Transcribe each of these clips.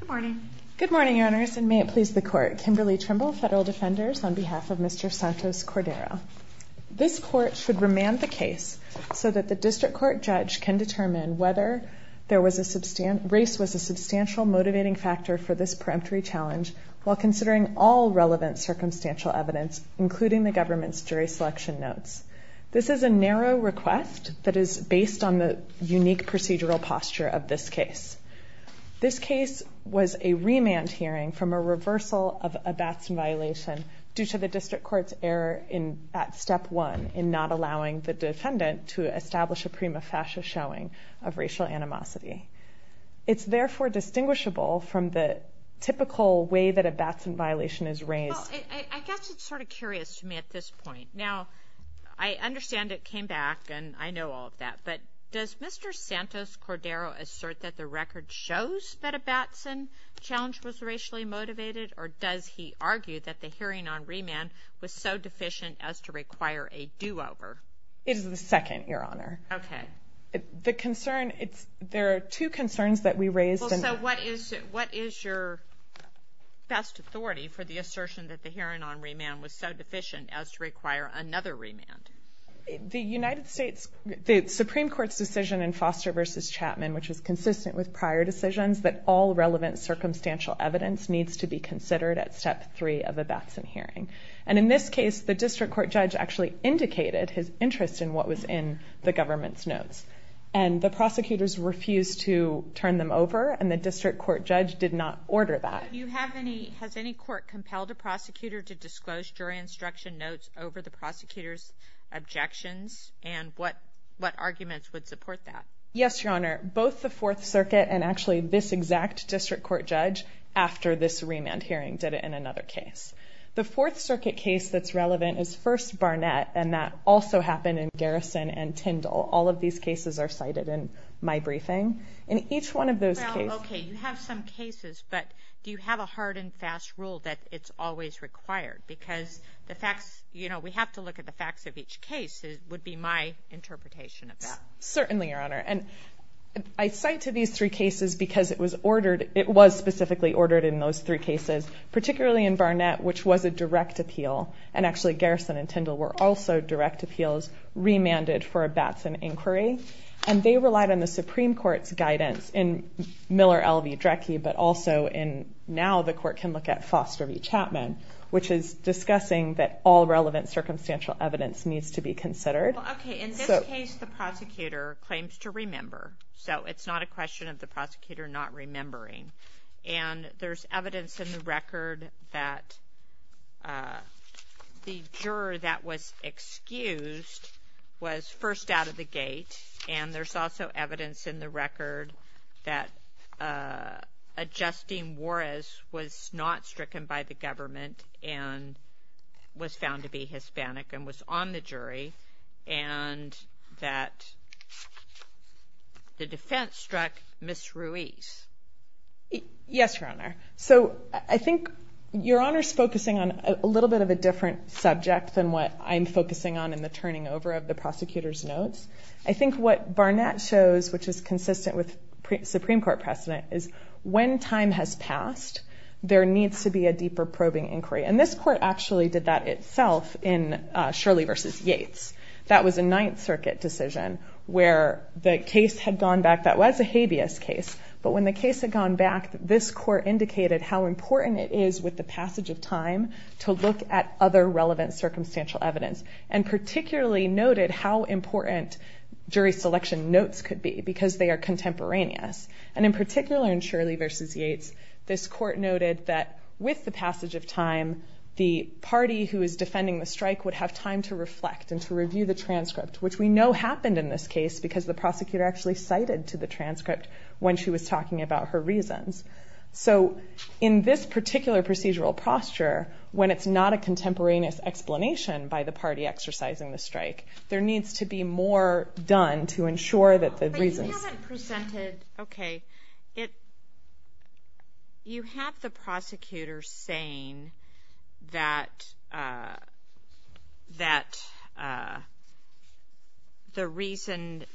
Good morning. Good morning, Your Honors, and may it please the Court, Kimberly Trimble, Federal Defenders, on behalf of Mr. Santos-Cordero. This Court should remand the case so that the district court judge can determine whether race was a substantial motivating factor for this peremptory challenge while considering all relevant circumstantial evidence, including the government's jury selection notes. This is a narrow request that is based on the unique procedural posture of this case. This case was a remand hearing from a reversal of a Batson violation due to the district court's error at Step 1 in not allowing the defendant to establish a prima facie showing of racial animosity. It's therefore distinguishable from the typical way that a Batson violation is raised. Well, I guess it's sort of curious to me at this point. Now, I understand it came back, and I know all of that, but does Mr. Santos-Cordero assert that the record shows that a Batson challenge was racially motivated, or does he argue that the hearing on remand was so deficient as to require a do-over? It is the second, Your Honor. Okay. The concern, it's, there are two concerns that we raised. Well, so what is your best authority for the assertion that the hearing on remand was so deficient as to require another remand? The United States, the Supreme Court's decision in Foster v. Chapman, which is consistent with prior decisions, that all relevant circumstantial evidence needs to be considered at Step 3 of a Batson hearing. And in this case, the district court judge actually indicated his interest in what was in the government's notes. And the prosecutors refused to turn them over, and the district court judge did not order that. Do you have any, has any court compelled a prosecutor to disclose jury instruction notes over the prosecutor's objections, and what arguments would support that? Yes, Your Honor. Both the Fourth Circuit and actually this exact district court judge, after this remand hearing, did it in another case. The Fourth Circuit case that's relevant is First Barnett, and that also happened in Garrison and Tyndall. All of these cases are cited in my briefing. In each one of those cases... Well, okay, you have some cases, but do you have a hard and fast rule that it's always required? Because the facts, you know, we have to look at the facts of each case, would be my interpretation of that. Certainly, Your Honor. And I cite to these three cases because it was ordered, it was specifically ordered in those three cases, particularly in Barnett, which was a direct appeal, and actually Garrison and Tyndall were also direct appeals remanded for a Batson inquiry, and they relied on the Supreme Court's guidance in Miller, Elvey, Drecke, but also in, now the court can look at Foster v. Chapman, which is discussing that all relevant circumstantial evidence needs to be considered. Well, okay. In this case, the prosecutor claims to remember, so it's not a question of the prosecutor not The juror that was excused was first out of the gate, and there's also evidence in the record that Justine Juarez was not stricken by the government and was found to be Hispanic and was on the jury, and that the defense struck Ms. Ruiz. Yes, Your Honor. So I think Your Honor's focusing on a little bit of a different subject than what I'm focusing on in the turning over of the prosecutor's notes. I think what Barnett shows, which is consistent with Supreme Court precedent, is when time has passed, there needs to be a deeper probing inquiry, and this court actually did that itself in Shirley v. Yates. That was a Ninth Circuit decision where the case had gone back, that was a habeas case, but when the case had gone back, this court indicated how important it is with the passage of time to look at other relevant circumstantial evidence, and particularly noted how important jury selection notes could be because they are contemporaneous, and in particular in Shirley v. Yates, this court noted that with the passage of time, the party who is defending the strike would have time to reflect and to review the transcript, which we know happened in this case because the prosecutor actually cited to the transcript when she was talking about her reasons. So in this particular procedural posture, when it's not a contemporaneous explanation by the party exercising the strike, there needs to be more done to ensure that the reasons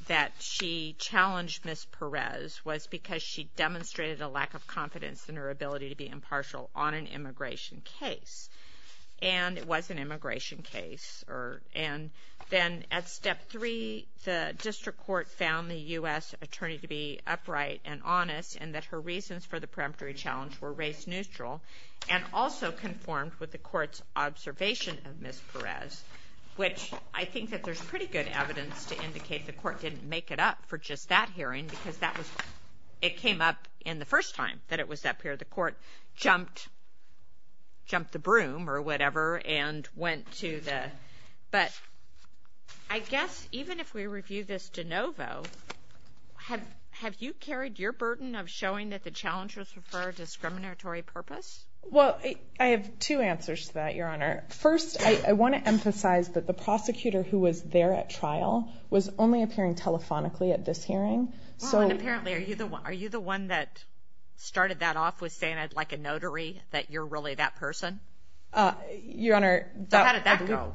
that she challenged Ms. Perez was because she demonstrated a lack of confidence in her ability to be impartial on an immigration case, and it was an immigration case, and then at step three, the district court found the U.S. attorney to be upright and honest and that her reasons for the peremptory challenge were race-neutral, and also conformed with the court's observation of Ms. Perez, which I think that there's pretty good evidence to indicate the court didn't make it up for just that hearing because that was, it came up in the first time that it was up here. So the court jumped the broom or whatever and went to the, but I guess even if we review this de novo, have you carried your burden of showing that the challengers refer to discriminatory purpose? Well, I have two answers to that, Your Honor. First, I want to emphasize that the prosecutor who was there at trial was only appearing telephonically at this hearing. Well, and apparently, are you the one that started that off with saying, like a notary, that you're really that person? Your Honor, that- So how did that go?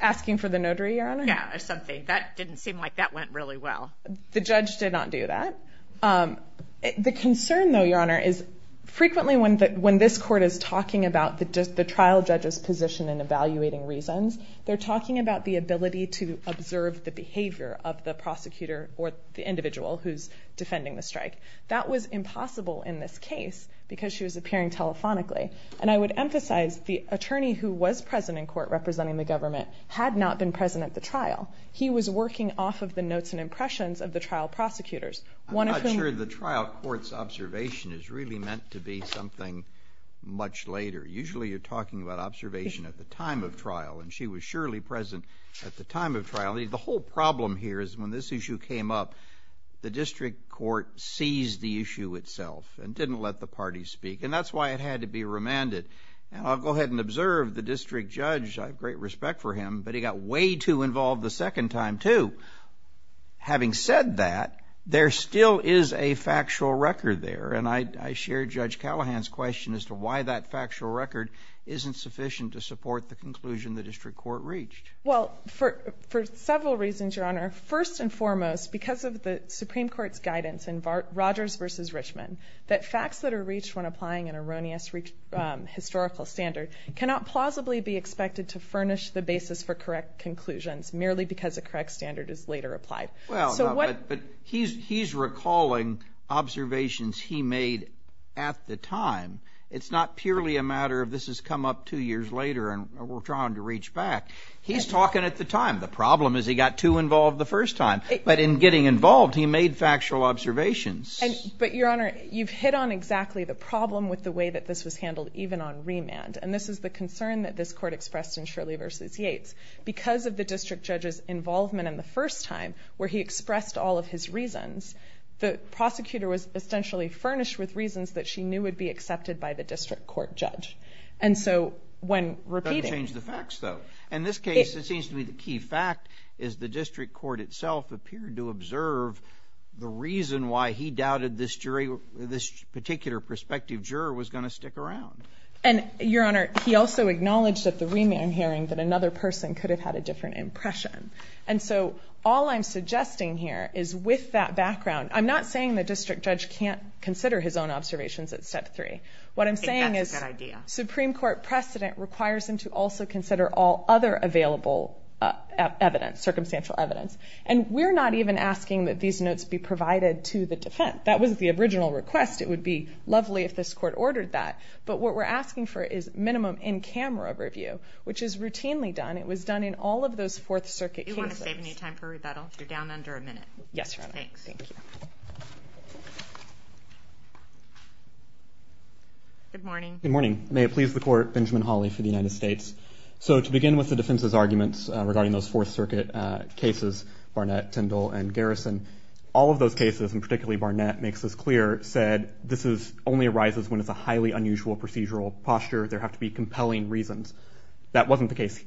Asking for the notary, Your Honor? Yeah, or something. That didn't seem like that went really well. The judge did not do that. The concern, though, Your Honor, is frequently when this court is talking about the trial judge's position in evaluating reasons, they're talking about the ability to observe the behavior of the prosecutor or the individual who's defending the strike. That was impossible in this case because she was appearing telephonically. And I would emphasize the attorney who was present in court representing the government had not been present at the trial. He was working off of the notes and impressions of the trial prosecutors. One of whom- I'm not sure the trial court's observation is really meant to be something much later. Usually you're talking about observation at the time of trial, and she was surely present at the time of trial. I mean, the whole problem here is when this issue came up, the district court seized the issue itself and didn't let the parties speak, and that's why it had to be remanded. And I'll go ahead and observe the district judge. I have great respect for him, but he got way too involved the second time, too. Having said that, there still is a factual record there, and I share Judge Callahan's question as to why that factual record isn't sufficient to support the conclusion the district court reached. Well, for several reasons, Your Honor. First and foremost, because of the Supreme Court's guidance in Rogers v. Richmond that facts that are reached when applying an erroneous historical standard cannot plausibly be expected to furnish the basis for correct conclusions merely because a correct standard is later applied. So what- Well, but he's recalling observations he made at the time. It's not purely a matter of this has come up two years later and we're trying to reach back. He's talking at the time. The problem is he got too involved the first time, but in getting involved, he made factual observations. But, Your Honor, you've hit on exactly the problem with the way that this was handled even on remand, and this is the concern that this Court expressed in Shirley v. Yates. Because of the district judge's involvement in the first time, where he expressed all of his reasons, the prosecutor was essentially furnished with reasons that she knew would be accepted by the district court judge. And so when repeating- In this case, it seems to be the key fact is the district court itself appeared to observe the reason why he doubted this particular prospective juror was going to stick around. And Your Honor, he also acknowledged at the remand hearing that another person could have had a different impression. And so all I'm suggesting here is with that background, I'm not saying the district judge can't consider his own observations at step three. I think that's a good idea. But this court precedent requires him to also consider all other available evidence, circumstantial evidence. And we're not even asking that these notes be provided to the defense. That wasn't the original request. It would be lovely if this Court ordered that. But what we're asking for is minimum in-camera review, which is routinely done. It was done in all of those Fourth Circuit cases. Do you want to save any time for rebuttal? You're down under a minute. Yes, Your Honor. Thanks. Thank you. Good morning. Good morning. May it please the Court, Benjamin Hawley for the United States. So to begin with the defense's arguments regarding those Fourth Circuit cases, Barnett, Tyndall, and Garrison, all of those cases, and particularly Barnett makes this clear, said this only arises when it's a highly unusual procedural posture. There have to be compelling reasons. That wasn't the case.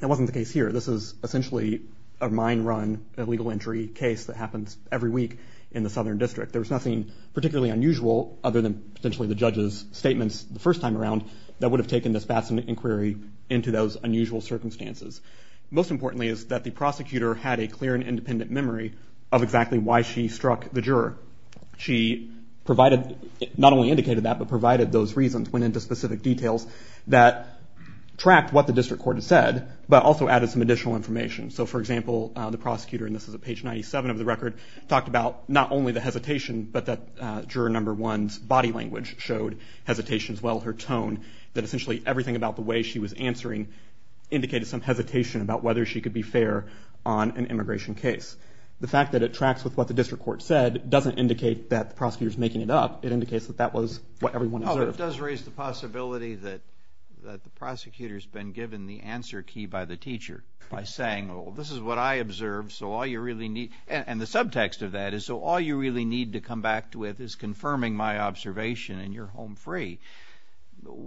That wasn't the case here. This is essentially a mine run, illegal entry case that happens every week in the Southern District. There was nothing particularly unusual other than potentially the judge's statements the would have taken this Batson inquiry into those unusual circumstances. Most importantly is that the prosecutor had a clear and independent memory of exactly why she struck the juror. She provided, not only indicated that, but provided those reasons, went into specific details that tracked what the district court had said, but also added some additional information. So for example, the prosecutor, and this is at page 97 of the record, talked about not only the hesitation, but that juror number one's body language showed hesitation as well her tone, that essentially everything about the way she was answering indicated some hesitation about whether she could be fair on an immigration case. The fact that it tracks with what the district court said doesn't indicate that the prosecutor is making it up. It indicates that that was what everyone observed. It does raise the possibility that the prosecutor has been given the answer key by the teacher by saying, oh, this is what I observed, so all you really need, and the subtext of that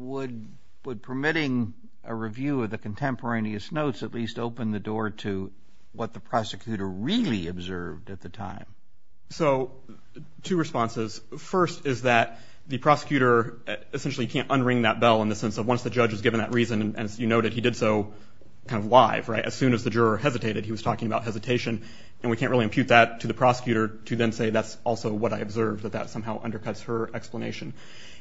Would permitting a review of the contemporaneous notes at least open the door to what the prosecutor really observed at the time? So two responses. First is that the prosecutor essentially can't unring that bell in the sense of once the judge is given that reason, and as you noted, he did so kind of live, right? As soon as the juror hesitated, he was talking about hesitation, and we can't really impute that to the prosecutor to then say that's also what I observed, that that somehow undercuts her explanation.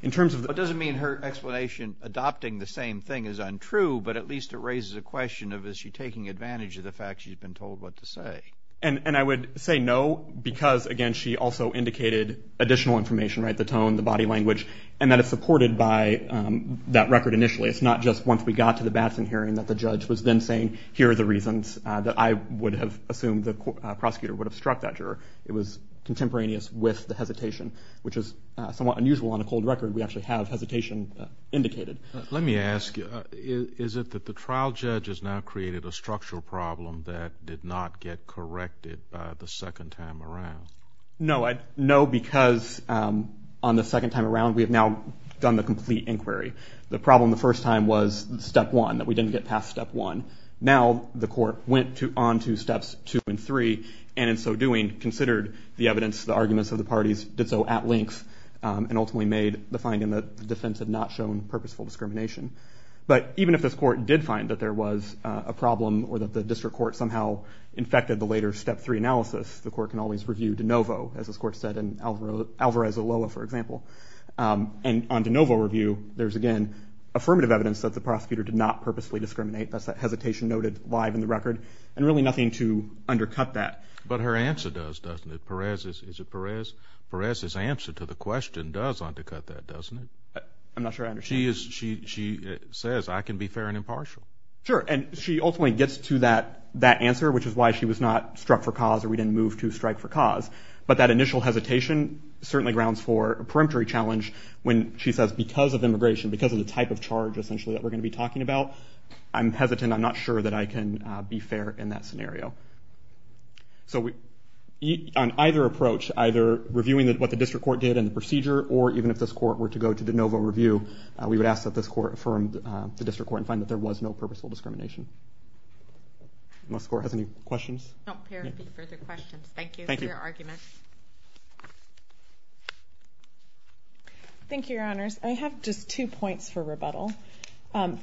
It doesn't mean her explanation adopting the same thing is untrue, but at least it raises a question of is she taking advantage of the fact she's been told what to say? And I would say no, because again, she also indicated additional information, right? The tone, the body language, and that it's supported by that record initially. It's not just once we got to the Batson hearing that the judge was then saying, here are the reasons that I would have assumed the prosecutor would have struck that juror. It was contemporaneous with the hesitation, which is somewhat unusual on a cold record. We actually have hesitation indicated. Let me ask you, is it that the trial judge has now created a structural problem that did not get corrected the second time around? No. No, because on the second time around, we have now done the complete inquiry. The problem the first time was step one, that we didn't get past step one. Now the court went on to steps two and three, and in so doing, considered the evidence, the arguments of the parties, did so at length, and ultimately made the finding that the defense had not shown purposeful discrimination. But even if this court did find that there was a problem or that the district court somehow infected the later step three analysis, the court can always review de novo, as this court said in Alvarez-Oloa, for example. And on de novo review, there's again, affirmative evidence that the prosecutor did not purposefully discriminate. That's that hesitation noted live in the record, and really nothing to undercut that. But her answer does, doesn't it? Perez's answer to the question does undercut that, doesn't it? I'm not sure I understand. She says, I can be fair and impartial. Sure, and she ultimately gets to that answer, which is why she was not struck for cause or we didn't move to strike for cause. But that initial hesitation certainly grounds for a peremptory challenge when she says because of immigration, because of the type of charge, essentially, that we're going to be talking about, I'm hesitant. I'm not sure that I can be fair in that scenario. So on either approach, either reviewing what the district court did and the procedure, or even if this court were to go to de novo review, we would ask that this court affirmed the district court and find that there was no purposeful discrimination. Unless the court has any questions? No, there would be further questions. Thank you for your argument. Thank you, Your Honors. I have just two points for rebuttal.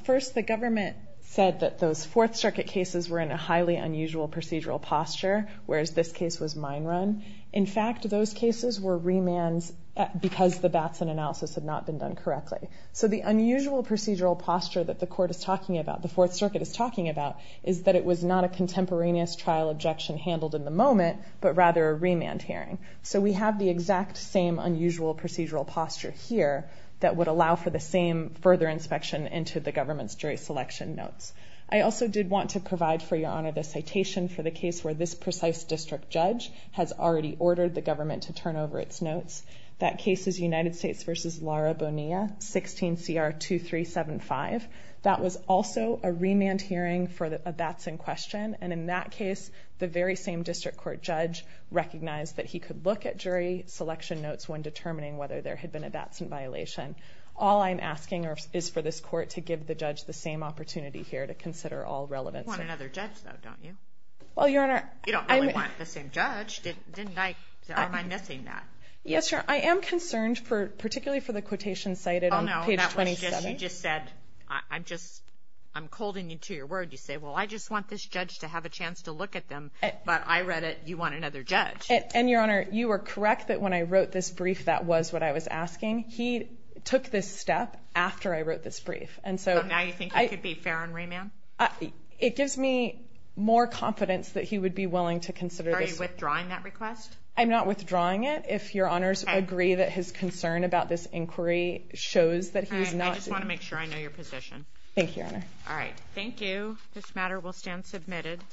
First, the government said that those Fourth Circuit cases were in a highly unusual procedural posture, whereas this case was mine run. In fact, those cases were remands because the Batson analysis had not been done correctly. So the unusual procedural posture that the court is talking about, the Fourth Circuit is talking about, is that it was not a contemporaneous trial objection handled in the moment, but rather a remand hearing. So we have the exact same unusual procedural posture here that would allow for the same further inspection into the government's jury selection notes. I also did want to provide, for Your Honor, the citation for the case where this precise district judge has already ordered the government to turn over its notes. That case is United States v. Lara Bonilla, 16 CR 2375. That was also a remand hearing for a Batson question, and in that case, the very same court judge recognized that he could look at jury selection notes when determining whether there had been a Batson violation. All I'm asking is for this court to give the judge the same opportunity here to consider all relevance. You want another judge, though, don't you? Well, Your Honor, I'm... You don't really want the same judge, didn't I? Am I missing that? Yes, Your Honor. I am concerned, particularly for the quotation cited on page 27. Oh, no. That was just... You just said... I'm just... I'm colding you to your word. You say, well, I just want this judge to have a chance to look at them, but I read it. You want another judge. And, Your Honor, you were correct that when I wrote this brief, that was what I was asking. He took this step after I wrote this brief. And so... So now you think it could be fair on remand? It gives me more confidence that he would be willing to consider this... Are you withdrawing that request? I'm not withdrawing it. If Your Honors agree that his concern about this inquiry shows that he's not... I just want to make sure I know your position. Thank you, Your Honor. All right. Thank you. This matter will stand submitted.